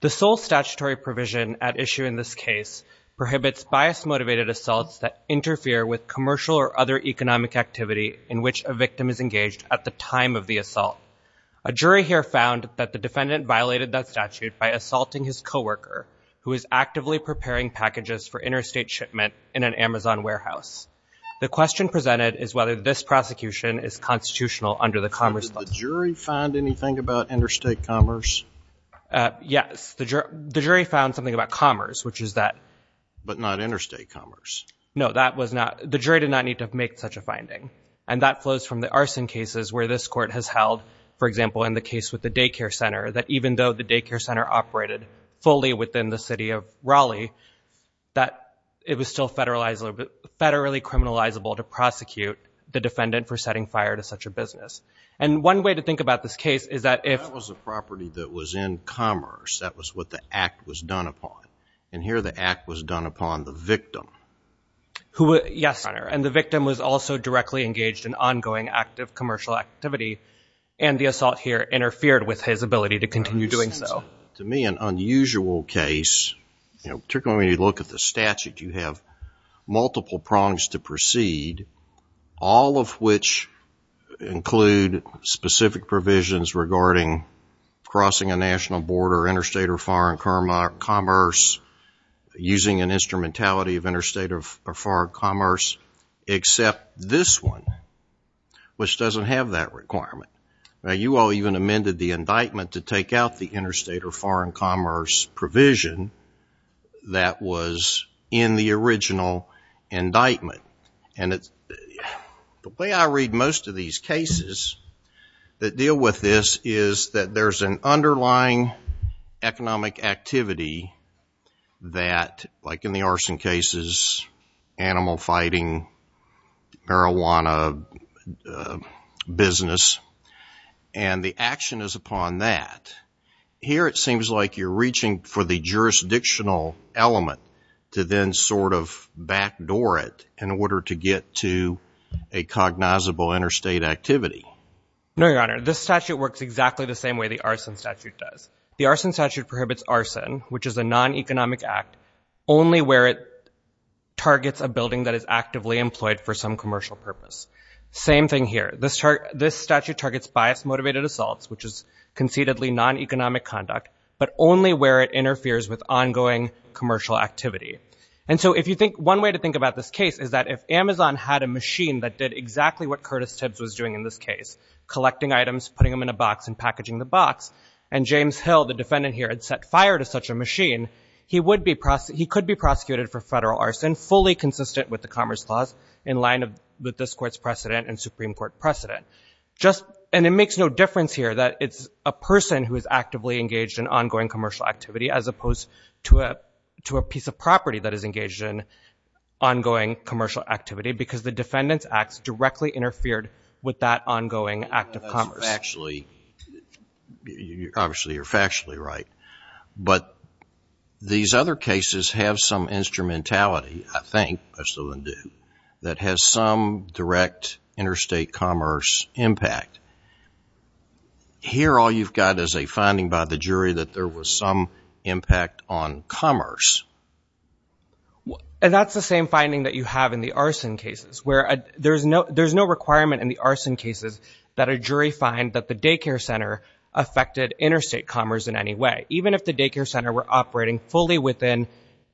The sole statutory provision at issue in this case prohibits bias-motivated assaults that interfere with commercial or other economic activity in which a victim is engaged at the time of the assault. A jury here found that the defendant violated that statute by assaulting his co-worker who is actively preparing packages for interstate shipment in an Amazon warehouse. The question presented is whether this prosecution is constitutional under the Yes, the jury found something about commerce, which is that... But not interstate commerce. No, that was not, the jury did not need to make such a finding and that flows from the arson cases where this court has held, for example, in the case with the daycare center that even though the daycare center operated fully within the city of Raleigh, that it was still federalized, federally criminalizable to prosecute the defendant for setting fire to such a property that was in commerce. That was what the act was done upon. And here the act was done upon the victim. Yes, and the victim was also directly engaged in ongoing active commercial activity and the assault here interfered with his ability to continue doing so. To me, an unusual case, particularly when you look at the statute, you have multiple prongs to proceed, all of which include specific provisions regarding crossing a national border, interstate or foreign commerce, using an instrumentality of interstate or foreign commerce, except this one, which doesn't have that requirement. Now, you all even amended the indictment to take out the interstate or foreign commerce provision that was in the with this is that there's an underlying economic activity that, like in the arson cases, animal fighting, marijuana business, and the action is upon that. Here it seems like you're reaching for the jurisdictional element to then sort of backdoor it in order to get to a cognizable interstate activity. No, your statute works exactly the same way the arson statute does. The arson statute prohibits arson, which is a non-economic act, only where it targets a building that is actively employed for some commercial purpose. Same thing here. This statute targets bias-motivated assaults, which is conceitedly non-economic conduct, but only where it interferes with ongoing commercial activity. And so if you think, one way to think about this case is that if Amazon had a machine that did exactly what Curtis Tibbs was doing in this case, collecting items, putting them in a box, and packaging the box, and James Hill, the defendant here, had set fire to such a machine, he could be prosecuted for federal arson fully consistent with the Commerce Clause in line of this court's precedent and Supreme Court precedent. And it makes no difference here that it's a person who is actively engaged in ongoing commercial activity as opposed to a piece of property that is engaged in ongoing commercial activity because the defendant's acts directly interfered with that ongoing act of commerce. That's factually, obviously you're factually right, but these other cases have some instrumentality, I think, I still do, that has some direct interstate commerce impact. Here all you've got is a finding by the jury that there was some impact on commerce. And that's the same finding that you have in the arson cases, where there's no requirement in the arson cases that a jury find that the daycare center affected interstate commerce in any way. Even if the daycare center were operating fully within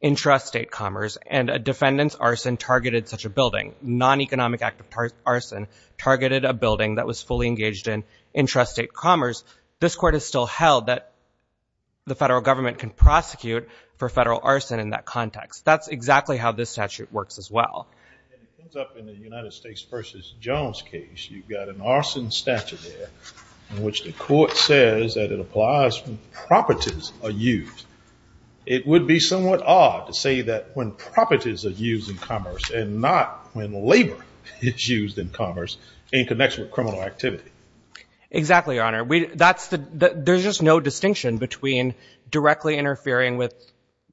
intrastate commerce and a defendant's arson targeted such a building, non-economic act of arson targeted a building that was fully engaged in intrastate commerce, this court is still held that the federal government can prosecute for federal arson in that In the United States v. Jones case, you've got an arson statute there in which the court says that it applies when properties are used. It would be somewhat odd to say that when properties are used in commerce and not when labor is used in commerce in connection with criminal activity. Exactly, Your Honor. There's just no distinction between directly interfering with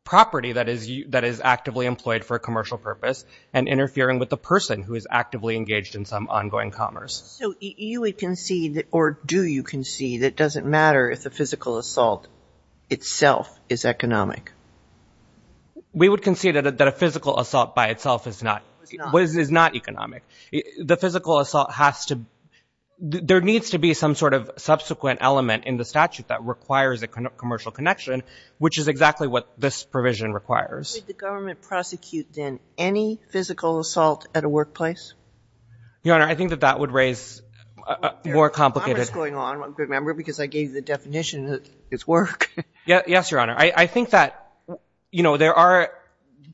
property that is actively employed for a commercial purpose and interfering with the person who is actively engaged in some ongoing commerce. So you would concede, or do you concede, that it doesn't matter if the physical assault itself is economic? We would concede that a physical assault by itself is not economic. The physical assault has to, there needs to be some sort of subsequent element in the statute that requires a commercial connection, which is exactly what this provision requires. Would the government prosecute then any physical assault at a workplace? Your Honor, I think that that would raise a more complicated... There's commerce going on, remember, because I gave you the definition that it's work. Yes, Your Honor. I think that, you know, there are,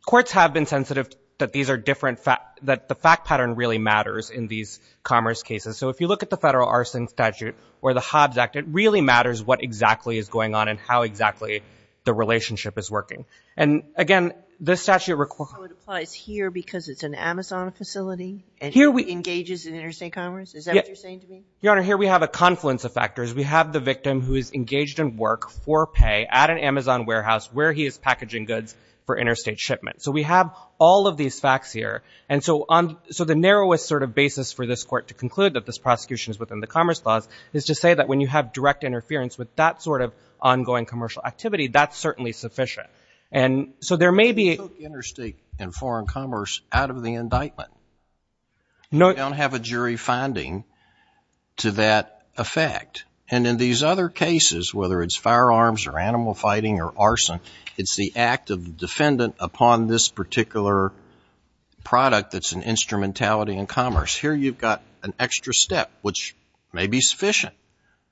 courts have been sensitive that these are different, that the fact pattern really matters in these commerce cases. So if you look at the federal arson statute or the Hobbs Act, it really matters what exactly is going on and how exactly the relationship is working. And again, this statute requires... So it applies here because it's an Amazon facility and engages in interstate commerce? Is that what you're saying to me? Your Honor, here we have a confluence of factors. We have the victim who is engaged in work for pay at an Amazon warehouse where he is packaging goods for interstate shipment. So we have all of these facts here. And so on, so the narrowest sort of basis for this court to conclude that this prosecution is within the commerce clause is to say that when you have direct interference with that sort of ongoing commercial activity, that's certainly sufficient. And so there may be... You took interstate and foreign commerce out of the indictment. No... You don't have a jury finding to that effect. And in these other cases, whether it's firearms or animal fighting or arson, it's the act of the defendant upon this particular product that's an instrumentality in commerce. Here you've got an extra step, which may be sufficient,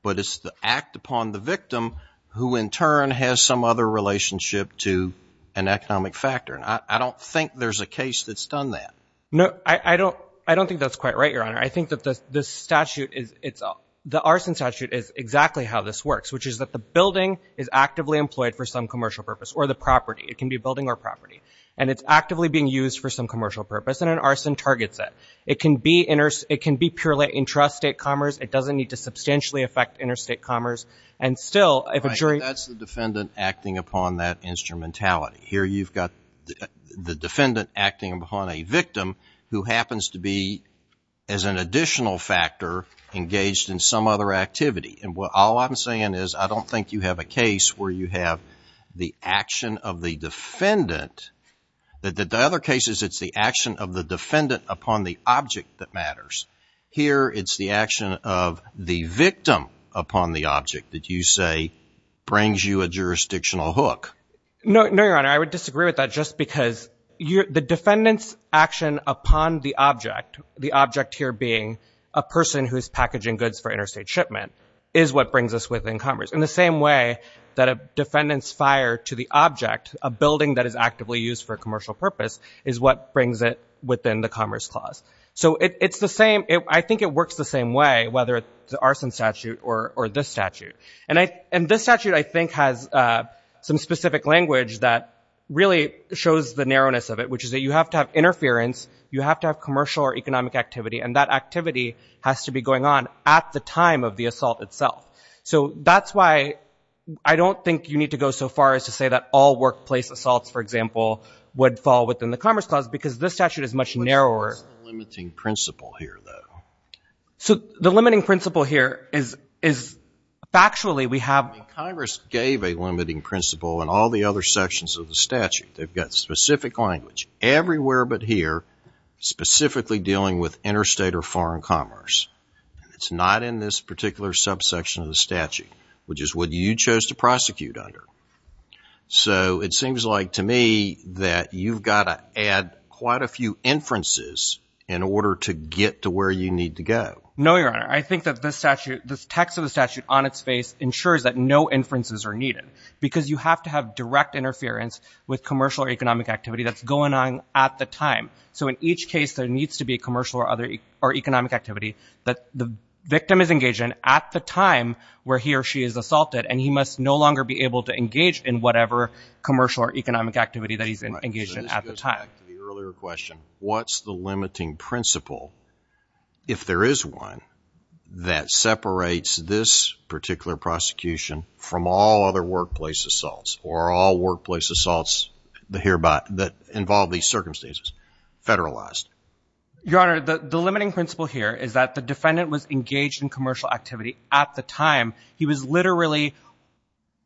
but it's the act upon the victim who in turn has some other relationship to an economic factor. And I don't think there's a case that's done that. No, I don't think that's quite right, Your Honor. I think that the statute is... The arson statute is exactly how this works, which is that the building is actively employed for some commercial purpose or the property. It can be a building or property. And it's actively being used for some commercial purpose and an arson targets it. It can be purely intrastate commerce. It doesn't need to substantially affect interstate commerce. And still, if a jury... That's the defendant acting upon that instrumentality. Here you've got the defendant acting upon a victim who happens to be, as an additional factor, engaged in some other activity. And all I'm saying is I don't think you have a case where you have the action of the defendant... The other case is it's the action of the defendant upon the object that matters. Here it's the action of the victim upon the object that you say brings you a jurisdictional hook. No, Your Honor. I would disagree with that just because the defendant's action upon the object, the object here being a person who's packaging goods for interstate shipment, is what brings us within commerce. In the same way that a defendant's fire to the object, a building that is actively used for commercial purpose, is what brings it within the Commerce Clause. So I think it works the same way, whether it's the arson statute or this statute. And this statute, I think, has some specific language that really shows the narrowness of it, which is that you have to have interference, you have to have commercial or economic activity, and that activity has to be going on at the time of the assault itself. So that's why I don't think you need to go so far as to say that all workplace assaults, for example, would fall within the Commerce Clause, because this statute is much narrower. But there's a limiting principle here, though. So the limiting principle here is factually we have... Congress gave a limiting principle in all the other sections of the statute. They've got specific language everywhere but here, specifically dealing with interstate or foreign commerce. It's not in this particular subsection of the statute, which is what you chose to prosecute under. So it seems like to me that you've got to add quite a few inferences in order to get to where you need to go. No, Your Honor. I think that this statute, this text of the statute on its face ensures that no inferences are needed, because you have to have direct interference with commercial or economic activity that's going on at the time. So in each case, there needs to be commercial or economic activity that the victim is engaged in at the time where he or she is assaulted, and he must no longer be able to engage in whatever commercial or economic activity that he's engaged in at the time. Right. So this goes back to the earlier question. What's the limiting principle, if there is one, that separates this particular prosecution from all other workplace assaults or all workplace assaults that involve these circumstances, federalized? Your Honor, the limiting principle here is that the defendant was engaged in commercial activity at the time. He was literally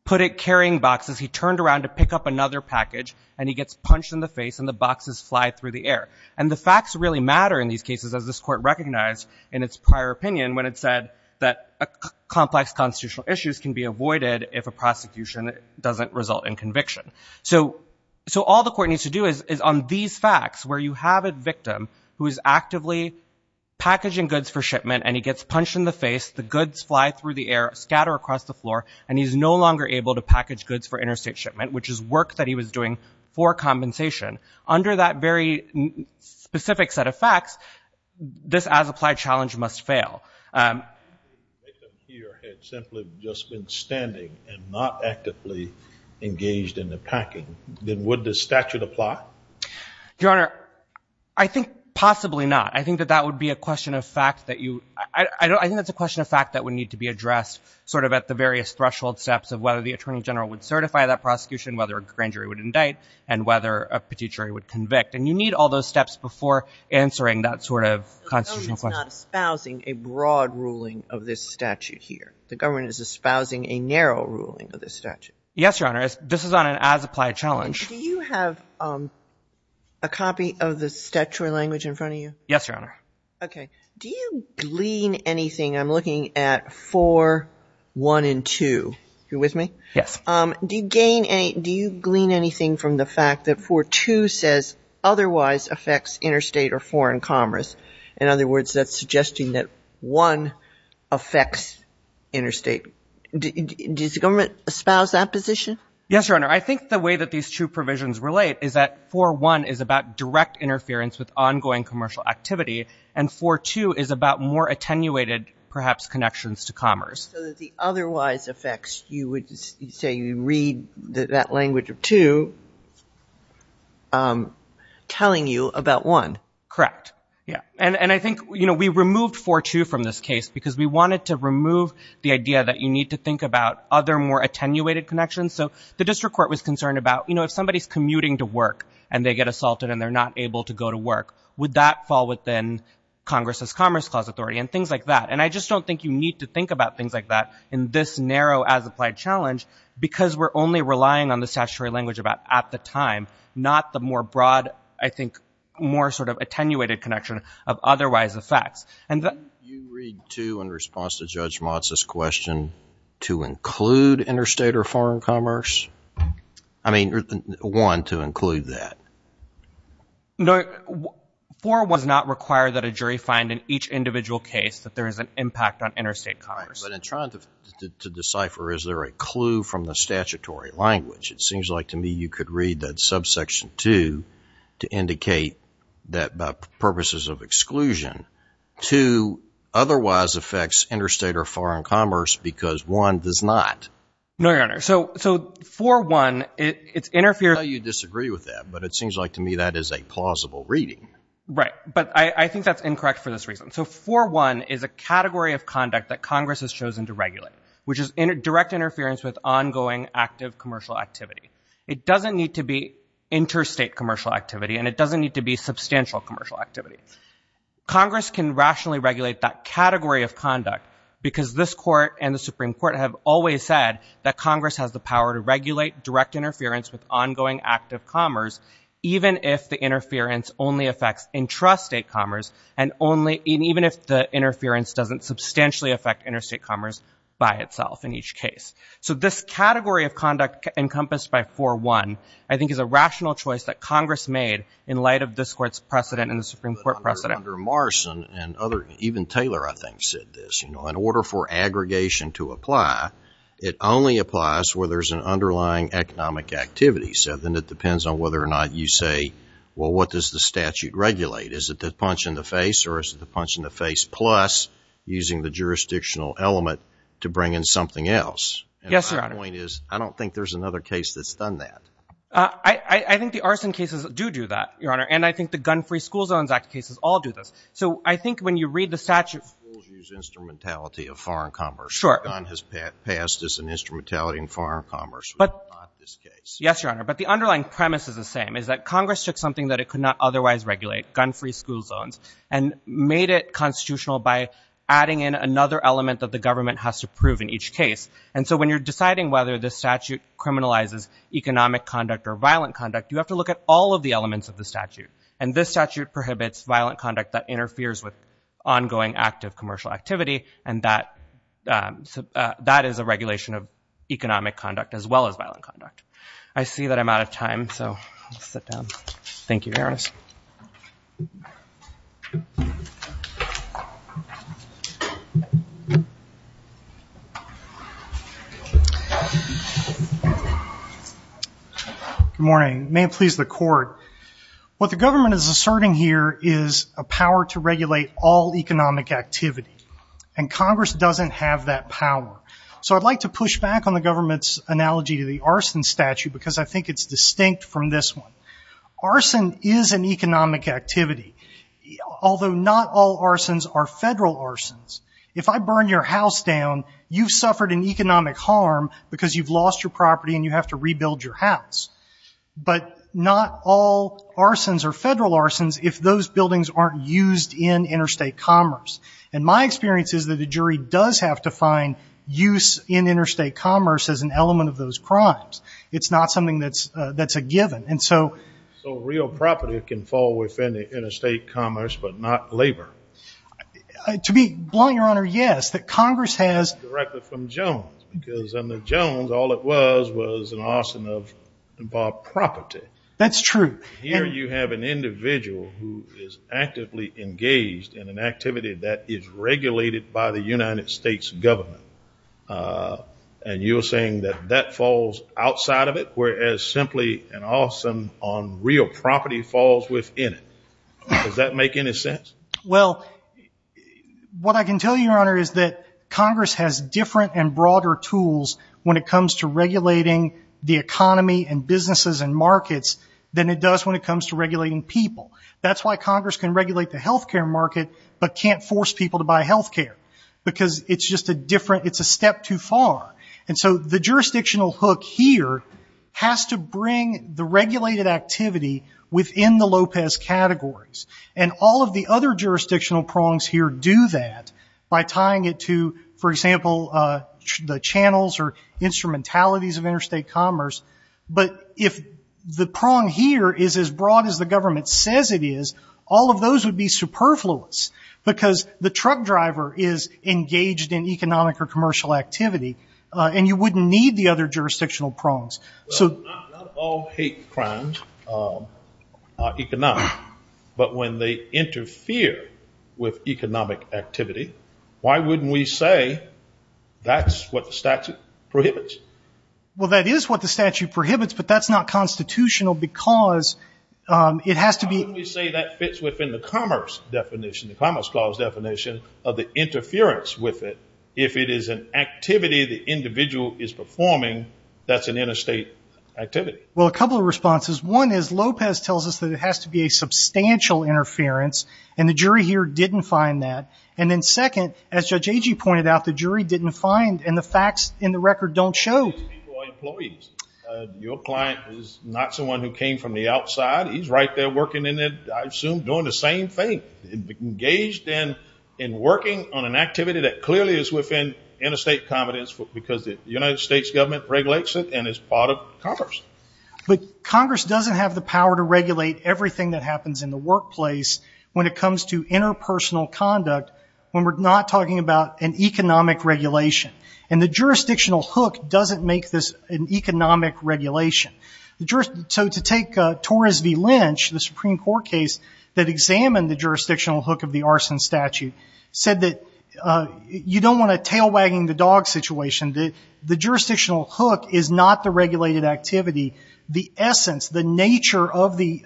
put in carrying boxes. He turned around to pick up another package, and he gets punched in the face, and the boxes fly through the air. And the facts really matter in these cases, as this Court recognized in its prior opinion when it said that complex constitutional issues can be avoided if a prosecution doesn't result in conviction. So all the Court needs to do is, on these facts, where you have a victim who is actively packaging goods for shipment, and he gets punched in the face, the goods fly through the air, scatter across the floor, and he's no longer able to package goods for interstate shipment, which is work that he was doing for compensation, under that very specific set of facts, this as-applied challenge must fail. If the victim here had simply just been standing and not actively engaged in the packing, then would the statute apply? Your Honor, I think possibly not. I think that that would be a question of fact that you, I think that's a question of fact that would need to be addressed sort of at the various threshold steps of whether the Attorney General would certify that prosecution, whether a grand jury would indict, and whether a petit jury would convict. And you need all those steps before answering that sort of constitutional question. The government is not espousing a broad ruling of this statute here. The government is espousing a narrow ruling of this statute. Yes, Your Honor. This is on an as-applied challenge. Do you have a copy of the statutory language in front of you? Yes, Your Honor. Okay. Do you glean anything? I'm looking at 4.1 and 2. Are you with me? Yes. Do you gain any, do you glean anything from the fact that 4.2 says otherwise affects interstate or foreign commerce? In other words, that's suggesting that 1 affects interstate. Does the government espouse that position? Yes, Your Honor. I think the way that these two provisions relate is that 4.1 is about direct interference with ongoing commercial activity, and 4.2 is about more attenuated perhaps connections to commerce. So that the otherwise affects, you would say you read that language of 2 telling you about 1. Correct. Yeah. And I think, you know, we removed 4.2 from this case because we wanted to remove the idea that you need to think about other more attenuated connections. So the district court was concerned about, you know, if somebody's commuting to work and they get assaulted and they're not able to go to work, would that fall within Congress's Commerce Clause Authority and things like that. And I just don't think you need to think about things like that in this narrow as-applied challenge because we're only relying on the statutory language about at the time, not the more broad, I think, more sort of attenuated connection of otherwise affects. Do you read 2 in response to Judge Motz's question to include interstate or foreign commerce? I mean, 1, to include that. No, 4 was not required that a jury find in each individual case that there is an impact on interstate commerce. But in trying to decipher, is there a clue from the statutory language? It seems like to me you could read that subsection 2 to indicate that by purposes of exclusion, 2 otherwise affects interstate or foreign commerce because 1 does not. No, Your Honor. So 4.1, it interferes. I know you disagree with that, but it seems like to me that is a plausible reading. Right. But I think that's incorrect for this reason. So 4.1 is a category of conduct that Congress has chosen to regulate, which is direct interference with ongoing active commercial activity. It doesn't need to be interstate commercial activity and it doesn't need to be substantial commercial activity. Congress can rationally regulate that category of conduct because this Court and the Supreme Court have always said that Congress has the power to regulate direct interference with ongoing active commerce, even if the interference only affects intrastate commerce and even if the interference doesn't substantially affect interstate commerce by itself in each case. So this category of conduct encompassed by 4.1, I think is a rational choice that Congress made in light of this Court's precedent and the Supreme Court precedent. Even Taylor, I think, said this, you know, in order for aggregation to apply, it only applies where there's an underlying economic activity. So then it depends on whether or not you say, well, what does the statute regulate? Is it the punch in the face or is it the punch in the face plus using the jurisdictional element to bring in something else? Yes, Your Honor. And my point is I don't think there's another case that's done that. I think the arson cases do do that, Your Honor, and I think the Gun-Free School Zones Act cases all do this. So I think when you read the statute... Schools use instrumentality of foreign commerce. Sure. Gun has passed as an instrumentality in foreign commerce. But... Not this case. Yes, Your Honor. But the underlying premise is the same, is that Congress took something that it could not otherwise regulate, gun-free school zones, and made it constitutional by adding in another element that the government has to prove in each case. And so when you're deciding whether this statute criminalizes economic conduct or violent conduct, you have to look at all of the elements of the statute. And this statute prohibits violent conduct that interferes with ongoing active commercial activity, and that is a regulation of economic conduct as well as violent conduct. I see that I'm out of time, so I'll sit down. Thank you, Your Honor. Good morning. May it please the Court. What the government is asserting here is a power to regulate all economic activity, and Congress doesn't have that power. So I'd like to push back on the government's analogy to the arson statute because I think it's distinct from this one. Arson is an economic activity, although not all arsons are federal arsons. If I burn your house down, you've suffered an economic harm because you've lost your property and you have to rebuild your house. But not all arsons are federal arsons if those buildings aren't used in interstate commerce. And my experience is that a jury does have to find use in interstate commerce as an element of those crimes. It's not something that's a given. So real property can fall within the interstate commerce but not labor? To be blunt, Your Honor, yes. That Congress has— Directed from Jones because under Jones all it was was an arson of property. That's true. Here you have an individual who is actively engaged in an activity that is regulated by the United States government. And you're saying that that falls outside of it whereas simply an arson on real property falls within it. Does that make any sense? Well, what I can tell you, Your Honor, is that Congress has different and broader tools when it comes to regulating the economy and businesses and markets than it does when it comes to regulating people. That's why Congress can regulate the healthcare market but can't force people to buy healthcare because it's just a different—it's a step too far. And so the jurisdictional hook here has to bring the regulated activity within the Lopez categories. And all of the other jurisdictional prongs here do that by tying it to, for example, the channels or instrumentalities of interstate commerce. But if the prong here is as broad as the government says it is, all of those would be superfluous because the truck driver is engaged in economic or commercial activity and you wouldn't need the other jurisdictional prongs. Well, not all hate crimes are economic. But when they interfere with economic activity, why wouldn't we say that's what the statute prohibits? Well, that is what the statute prohibits, but that's not constitutional because it has to be— Why wouldn't we say that fits within the commerce definition, the Commerce Clause definition, of the interference with it? If it is an activity the individual is performing, that's an interstate activity. Well, a couple of responses. One is Lopez tells us that it has to be a substantial interference and the jury here didn't find that. And then second, as Judge Agee pointed out, the jury didn't find and the facts in the record don't show. Your client is not someone who came from the outside. He's right there working in it, I assume, doing the same thing, engaged in working on an activity that clearly is within interstate competence because the United States government regulates it and it's part of commerce. But Congress doesn't have the power to regulate everything that happens in the workplace when it comes to interpersonal conduct, when we're not talking about an economic regulation. And the jurisdictional hook doesn't make this an economic regulation. So to take Torres v. Lynch, the Supreme Court case that examined the jurisdictional hook of the arson statute, said that you don't want a tail wagging the dog situation. The jurisdictional hook is not the regulated activity. The essence, the nature of the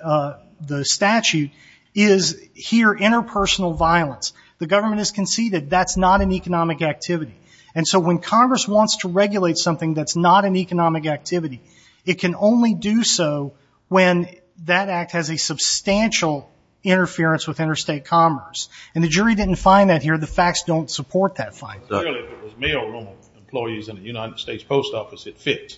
statute is here interpersonal violence. The government has conceded that's not an economic activity. And so when Congress wants to regulate something that's not an economic activity, it can only do so when that act has a substantial interference with interstate commerce. And the jury didn't find that here. The facts don't support that finding. Clearly, if it was mailroom employees in a United States post office, it fits,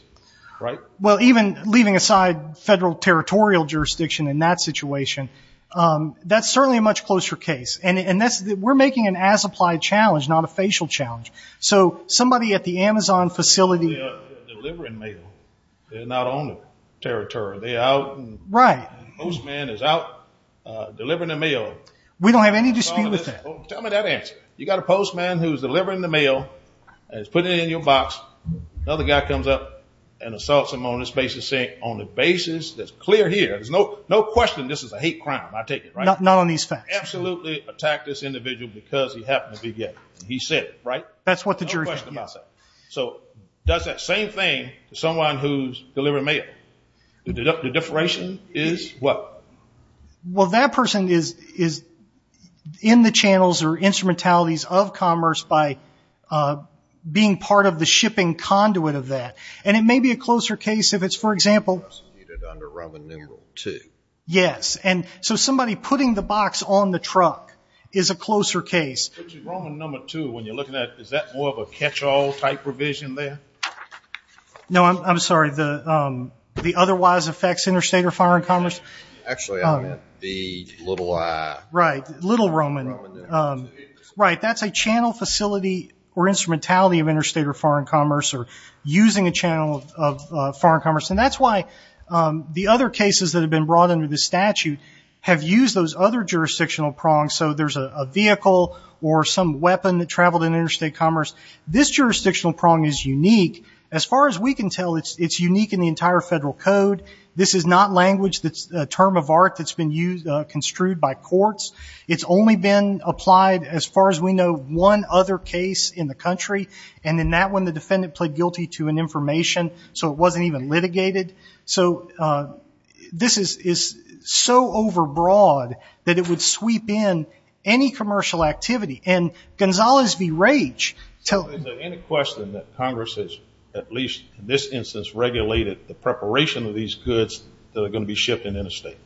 right? Well, even leaving aside federal territorial jurisdiction in that situation, that's certainly a much closer case. And we're making an as-applied challenge, not a facial challenge. So somebody at the Amazon facility – They're delivering mail. They're not on the territory. They're out and the postman is out delivering the mail. We don't have any dispute with that. Tell me that answer. You've got a postman who's delivering the mail and he's putting it in your box. Another guy comes up and assaults him on the basis that's clear here. There's no question this is a hate crime, I take it, right? Not on these facts. Absolutely attacked this individual because he happened to be gay. He said it, right? That's what the jury said. No question about that. So does that same thing to someone who's delivering mail. The differentiation is what? Well, that person is in the channels or instrumentalities of commerce by being part of the shipping conduit of that. And it may be a closer case if it's, for example – Under Roman numeral two. Yes, and so somebody putting the box on the truck is a closer case. Roman number two, when you're looking at it, is that more of a catch-all type revision there? No, I'm sorry. The otherwise affects interstate or foreign commerce? Actually, I meant the little I. Right, little Roman. Right, that's a channel facility or instrumentality of interstate or foreign commerce or using a channel of foreign commerce. And that's why the other cases that have been brought under this statute have used those other jurisdictional prongs. So there's a vehicle or some weapon that traveled in interstate commerce. This jurisdictional prong is unique. As far as we can tell, it's unique in the entire federal code. This is not language that's a term of art that's been construed by courts. It's only been applied, as far as we know, one other case in the country. And in that one, the defendant pled guilty to an information, so it wasn't even litigated. So this is so overbroad that it would sweep in any commercial activity. And Gonzalez v. Rage – Is there any question that Congress has, at least in this instance, regulated the preparation of these goods that are going to be shipped in interstate?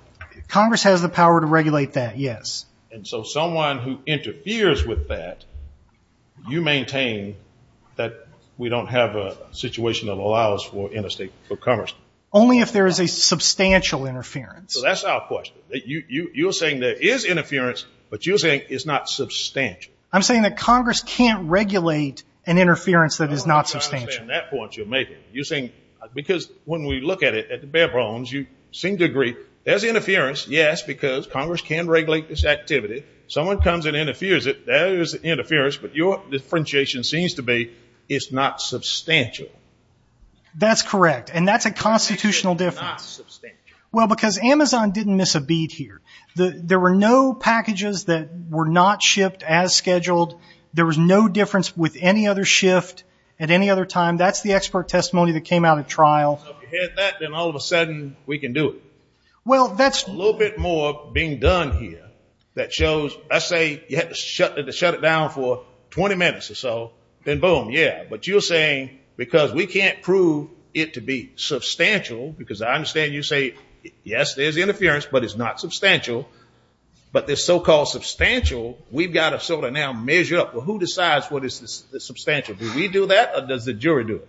Congress has the power to regulate that, yes. And so someone who interferes with that, you maintain that we don't have a situation that allows for interstate commerce? Only if there is a substantial interference. So that's our question. You're saying there is interference, but you're saying it's not substantial. I'm saying that Congress can't regulate an interference that is not substantial. No, I understand that point you're making. Because when we look at it at the bare bones, you seem to agree there's interference, yes, because Congress can regulate this activity. Someone comes and interferes, there is interference, but your differentiation seems to be it's not substantial. That's correct, and that's a constitutional difference. Well, because Amazon didn't miss a beat here. There were no packages that were not shipped as scheduled. There was no difference with any other shift at any other time. That's the expert testimony that came out at trial. If you had that, then all of a sudden we can do it. Well, that's a little bit more being done here that shows, I say, you had to shut it down for 20 minutes or so, then boom, yeah. But you're saying because we can't prove it to be substantial, because I understand you say, yes, there's interference, but it's not substantial, but this so-called substantial, we've got to sort of now measure up. Well, who decides what is substantial? Do we do that, or does the jury do it?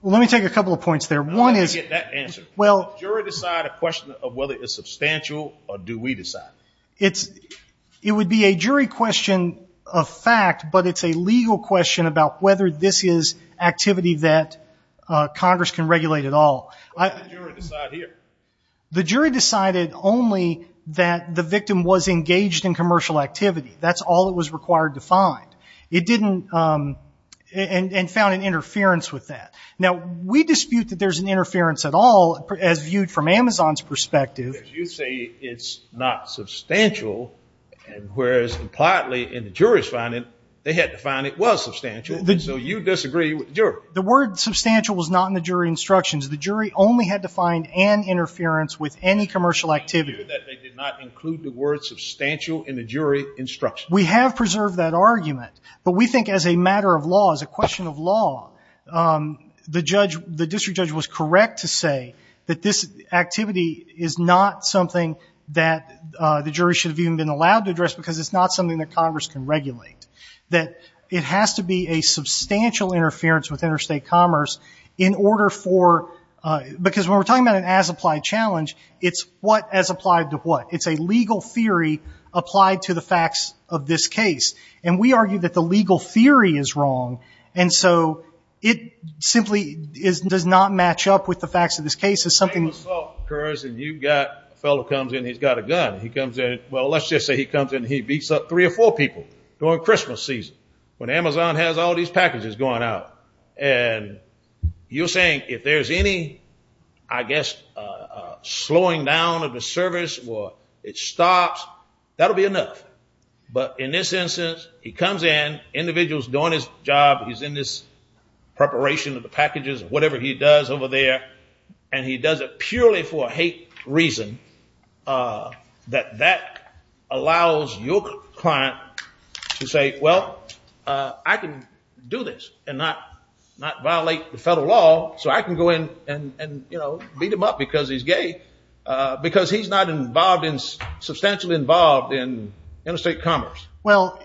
Well, let me take a couple of points there. I want to get that answer. Will the jury decide a question of whether it's substantial, or do we decide? It would be a jury question of fact, but it's a legal question about whether this is activity that Congress can regulate at all. Why did the jury decide here? The jury decided only that the victim was engaged in commercial activity. That's all that was required to find. It didn't, and found an interference with that. Now, we dispute that there's an interference at all, as viewed from Amazon's perspective. You say it's not substantial, whereas impliedly in the jury's finding, they had to find it was substantial, and so you disagree with the jury. The word substantial was not in the jury instructions. The jury only had to find an interference with any commercial activity. They did not include the word substantial in the jury instructions. We have preserved that argument, but we think as a matter of law, as a question of law, the district judge was correct to say that this activity is not something that the jury should have even been allowed to address because it's not something that Congress can regulate, that it has to be a substantial interference with interstate commerce in order for – because when we're talking about an as-applied challenge, it's what as applied to what. It's a legal theory applied to the facts of this case, and we argue that the legal theory is wrong, and so it simply does not match up with the facts of this case. It's something –– assault occurs, and you've got – a fellow comes in, he's got a gun. He comes in – well, let's just say he comes in, and he beats up three or four people during Christmas season when Amazon has all these packages going out, and you're saying if there's any, I guess, slowing down of the service or it stops, that'll be enough. But in this instance, he comes in, individual's doing his job, he's in this preparation of the packages, whatever he does over there, and he does it purely for a hate reason, that that allows your client to say, well, I can do this and not violate the federal law, so I can go in and, you know, beat him up because he's gay, because he's not involved in – substantially involved in interstate commerce. Well,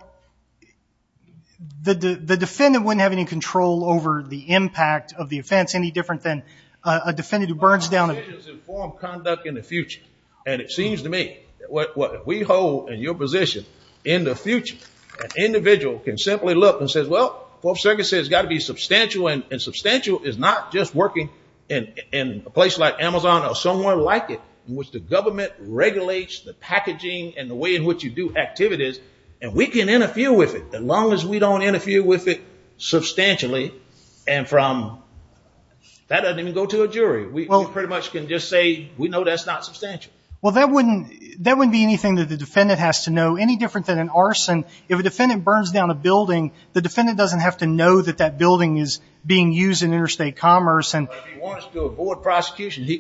the defendant wouldn't have any control over the impact of the offense, any different than a defendant who burns down a –– informed conduct in the future, and it seems to me that what we hold in your position, in the future, an individual can simply look and say, well, Fourth Circuit says it's got to be substantial, and substantial is not just working in a place like Amazon or somewhere like it in which the government regulates the packaging and the way in which you do activities, and we can interfere with it as long as we don't interfere with it substantially, and from – that doesn't even go to a jury. We pretty much can just say we know that's not substantial. Well, that wouldn't be anything that the defendant has to know, any different than an arson. If a defendant burns down a building, the defendant doesn't have to know that that building is being used in interstate commerce. Well, if he wants to avoid prosecution, he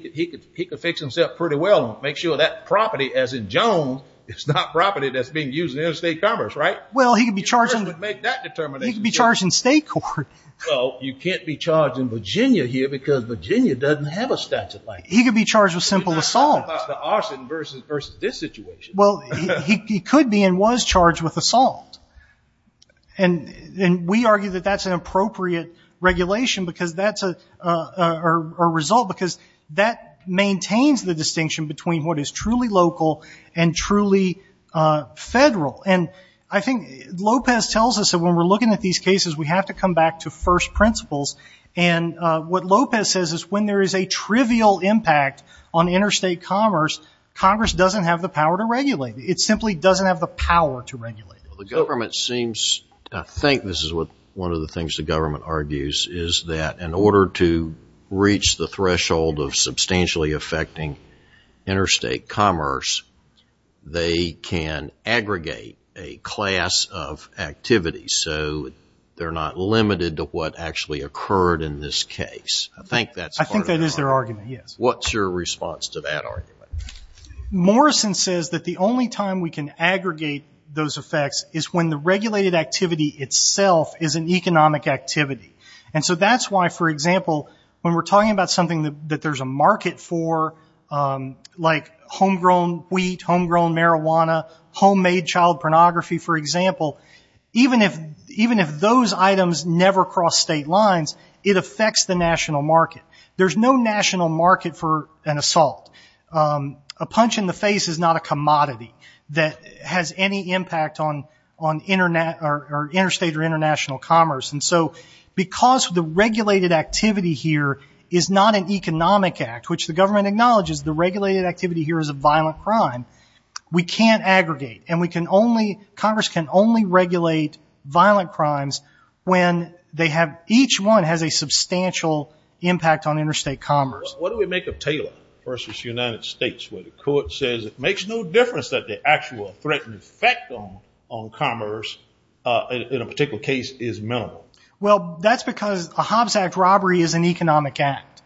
could fix himself pretty well and make sure that property, as in Jones, is not property that's being used in interstate commerce, right? Well, he could be charged in – He first would make that determination. He could be charged in state court. Well, you can't be charged in Virginia here because Virginia doesn't have a statute like that. He could be charged with simple assault. You're not talking about the arson versus this situation. Well, he could be and was charged with assault. And we argue that that's an appropriate regulation because that's a result because that maintains the distinction between what is truly local and truly federal. And I think Lopez tells us that when we're looking at these cases, we have to come back to first principles. And what Lopez says is when there is a trivial impact on interstate commerce, Congress doesn't have the power to regulate. It simply doesn't have the power to regulate. Well, the government seems – I think this is one of the things the government argues, is that in order to reach the threshold of substantially affecting interstate commerce, they can aggregate a class of activities. So they're not limited to what actually occurred in this case. I think that's part of their argument. I think that is their argument, yes. What's your response to that argument? Morrison says that the only time we can aggregate those effects is when the regulated activity itself is an economic activity. And so that's why, for example, when we're talking about something that there's a market for, like homegrown wheat, homegrown marijuana, homemade child pornography, for example, even if those items never cross state lines, it affects the national market. There's no national market for an assault. A punch in the face is not a commodity that has any impact on interstate or international commerce. And so because the regulated activity here is not an economic act, which the government acknowledges the regulated activity here is a violent crime, we can't aggregate. And we can only, Congress can only regulate violent crimes when they have, each one has a substantial impact on interstate commerce. What do we make of Taylor versus United States where the court says it makes no difference that the actual threatened effect on commerce, in a particular case, is minimal? Well, that's because a Hobbs Act robbery is an economic act.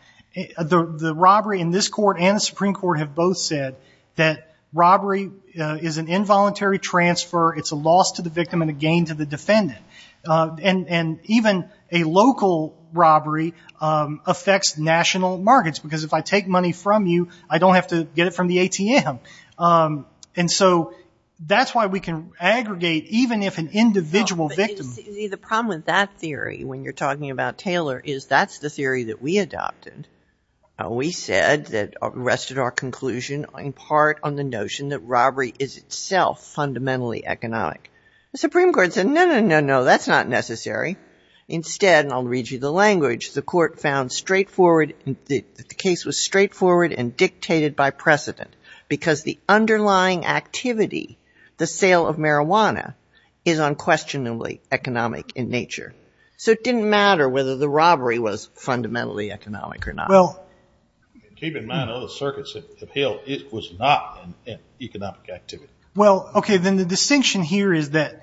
The robbery in this court and the Supreme Court have both said that robbery is an involuntary transfer. It's a loss to the victim and a gain to the defendant. And even a local robbery affects national markets because if I take money from you, I don't have to get it from the ATM. And so that's why we can aggregate even if an individual victim. See, the problem with that theory when you're talking about Taylor is that's the theory that we adopted. We said that, rested our conclusion in part on the notion that robbery is itself fundamentally economic. The Supreme Court said, no, no, no, no, that's not necessary. Instead, and I'll read you the language, the court found straightforward, the case was straightforward and dictated by precedent because the underlying activity, the sale of marijuana, is unquestionably economic in nature. So it didn't matter whether the robbery was fundamentally economic or not. Well, keep in mind other circuits have held it was not an economic activity. Well, okay, then the distinction here is that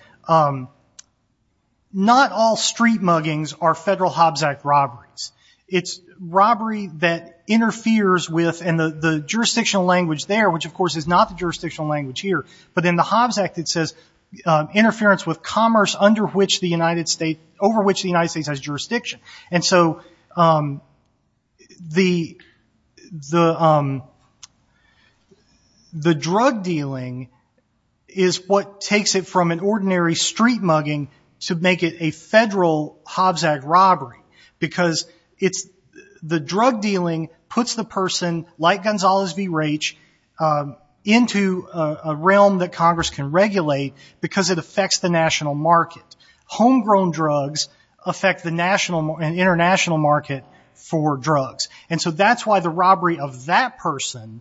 not all street muggings are federal Hobbs Act robberies. It's robbery that interferes with, and the jurisdictional language there, which of course is not the jurisdictional language here, but in the Hobbs Act it says, interference with commerce over which the United States has jurisdiction. And so the drug dealing is what takes it from an ordinary street mugging to make it a federal Hobbs Act robbery because the drug dealing puts the person, like Gonzalez v. Raich, into a realm that Congress can regulate because it affects the national market. Homegrown drugs affect the national and international market for drugs. And so that's why the robbery of that person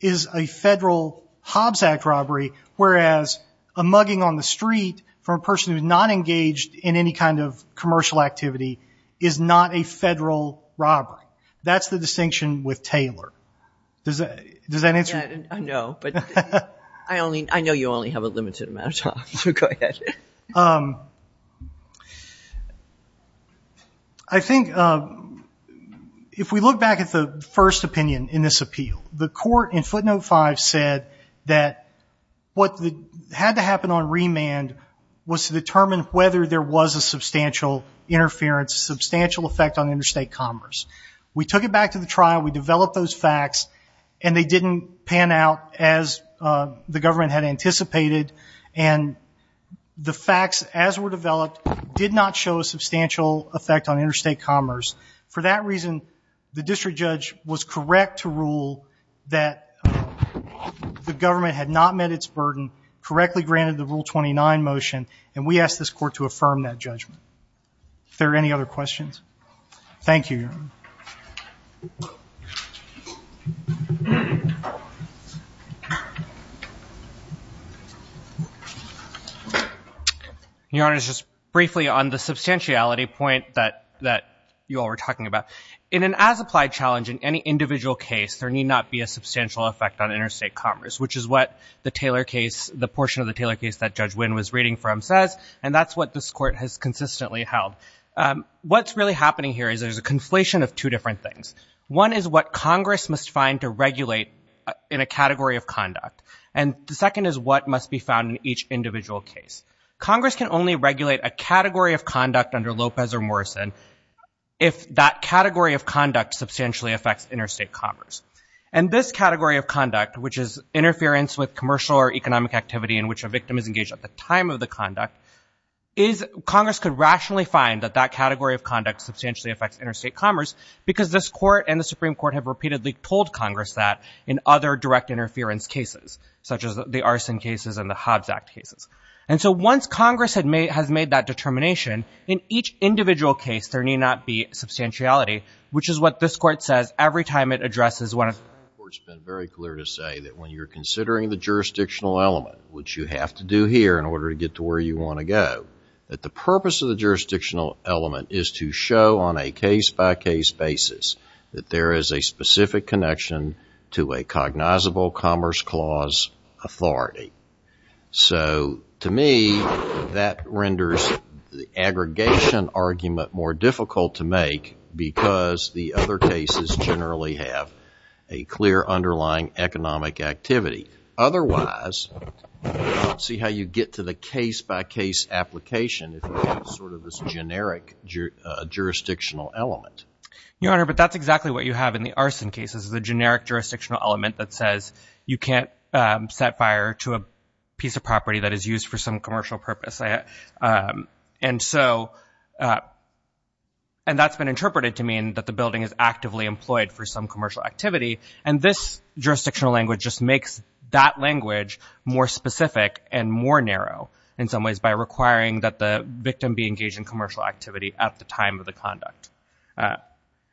is a federal Hobbs Act robbery, whereas a mugging on the street from a person who's not engaged in any kind of commercial activity is not a federal robbery. That's the distinction with Taylor. Does that answer your question? Yeah, I know, but I know you only have a limited amount of time, so go ahead. I think if we look back at the first opinion in this appeal, the court in footnote five said that what had to happen on remand was to determine whether there was a substantial interference, substantial effect on interstate commerce. We took it back to the trial, we developed those facts, and they didn't pan out as the government had anticipated, and the facts as were developed did not show a substantial effect on interstate commerce. For that reason, the district judge was correct to rule that the government had not met its burden, correctly granted the Rule 29 motion, and we asked this court to affirm that judgment. Are there any other questions? Thank you, Your Honor. Your Honor, just briefly on the substantiality point that you all were talking about, in an as-applied challenge in any individual case, there need not be a substantial effect on interstate commerce, which is what the portion of the Taylor case that Judge Wynn was reading from says, and that's what this court has consistently held. What's really happening here is there's a conflation of two different things. One is what Congress must find to regulate in a category of conduct, and the second is what must be found in each individual case. Congress can only regulate a category of conduct under Lopez or Morrison if that category of conduct substantially affects interstate commerce. And this category of conduct, which is interference with commercial or economic activity in which a victim is engaged at the time of the conduct, Congress could rationally find that that category of conduct substantially affects interstate commerce because this Court and the Supreme Court have repeatedly told Congress that in other direct interference cases, such as the Arson Cases and the Hobbs Act cases. And so once Congress has made that determination, in each individual case there need not be substantiality, which is what this Court says every time it addresses one of the… The Supreme Court's been very clear to say that when you're considering the jurisdictional element, which you have to do here in order to get to where you want to go, that the purpose of the jurisdictional element is to show on a case-by-case basis that there is a specific connection to a cognizable commerce clause authority. So to me, that renders the aggregation argument more difficult to make because the other cases generally have a clear underlying economic activity. Otherwise, see how you get to the case-by-case application if you have sort of this generic jurisdictional element. Your Honor, but that's exactly what you have in the Arson Cases, the generic jurisdictional element that says you can't set fire to a piece of property that is used for some commercial purpose. And so, and that's been interpreted to mean that the building is actively employed for some commercial activity. And this jurisdictional language just makes that language more specific and more narrow in some ways by requiring that the victim be engaged in commercial activity at the time of the conduct.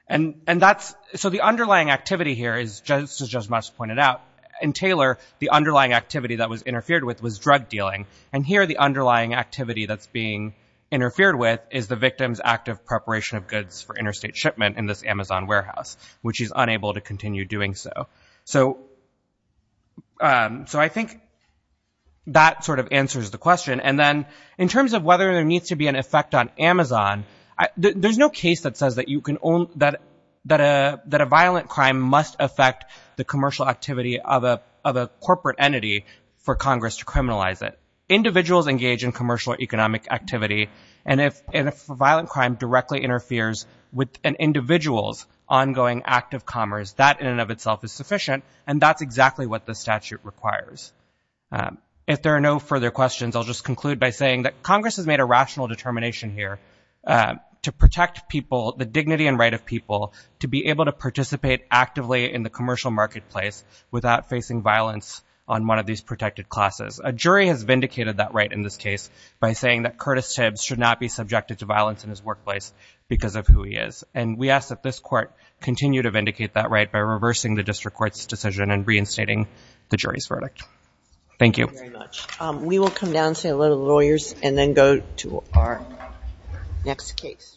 And that's, so the underlying activity here is, as Judge Mast pointed out, in Taylor, the underlying activity that was interfered with was drug dealing. And here, the underlying activity that's being interfered with is the victim's active preparation of goods for interstate shipment in this Amazon warehouse, which is unable to continue doing so. So I think that sort of answers the question. And then in terms of whether there needs to be an effect on Amazon, there's no case that says that a violent crime must affect the commercial activity of a corporate entity for Congress to criminalize it. Individuals engage in commercial economic activity, and if a violent crime directly interferes with an individual's ongoing act of commerce, that in and of itself is sufficient, and that's exactly what the statute requires. If there are no further questions, I'll just conclude by saying that Congress has made a rational determination here to protect people, the dignity and right of people, to be able to participate actively in the commercial marketplace without facing violence on one of these protected classes. A jury has vindicated that right in this case by saying that Curtis Tibbs should not be subjected to violence in his workplace because of who he is. And we ask that this court continue to vindicate that right by reversing the district court's decision and reinstating the jury's verdict. Thank you. Thank you very much. We will come down and say a little to the lawyers and then go to our next case.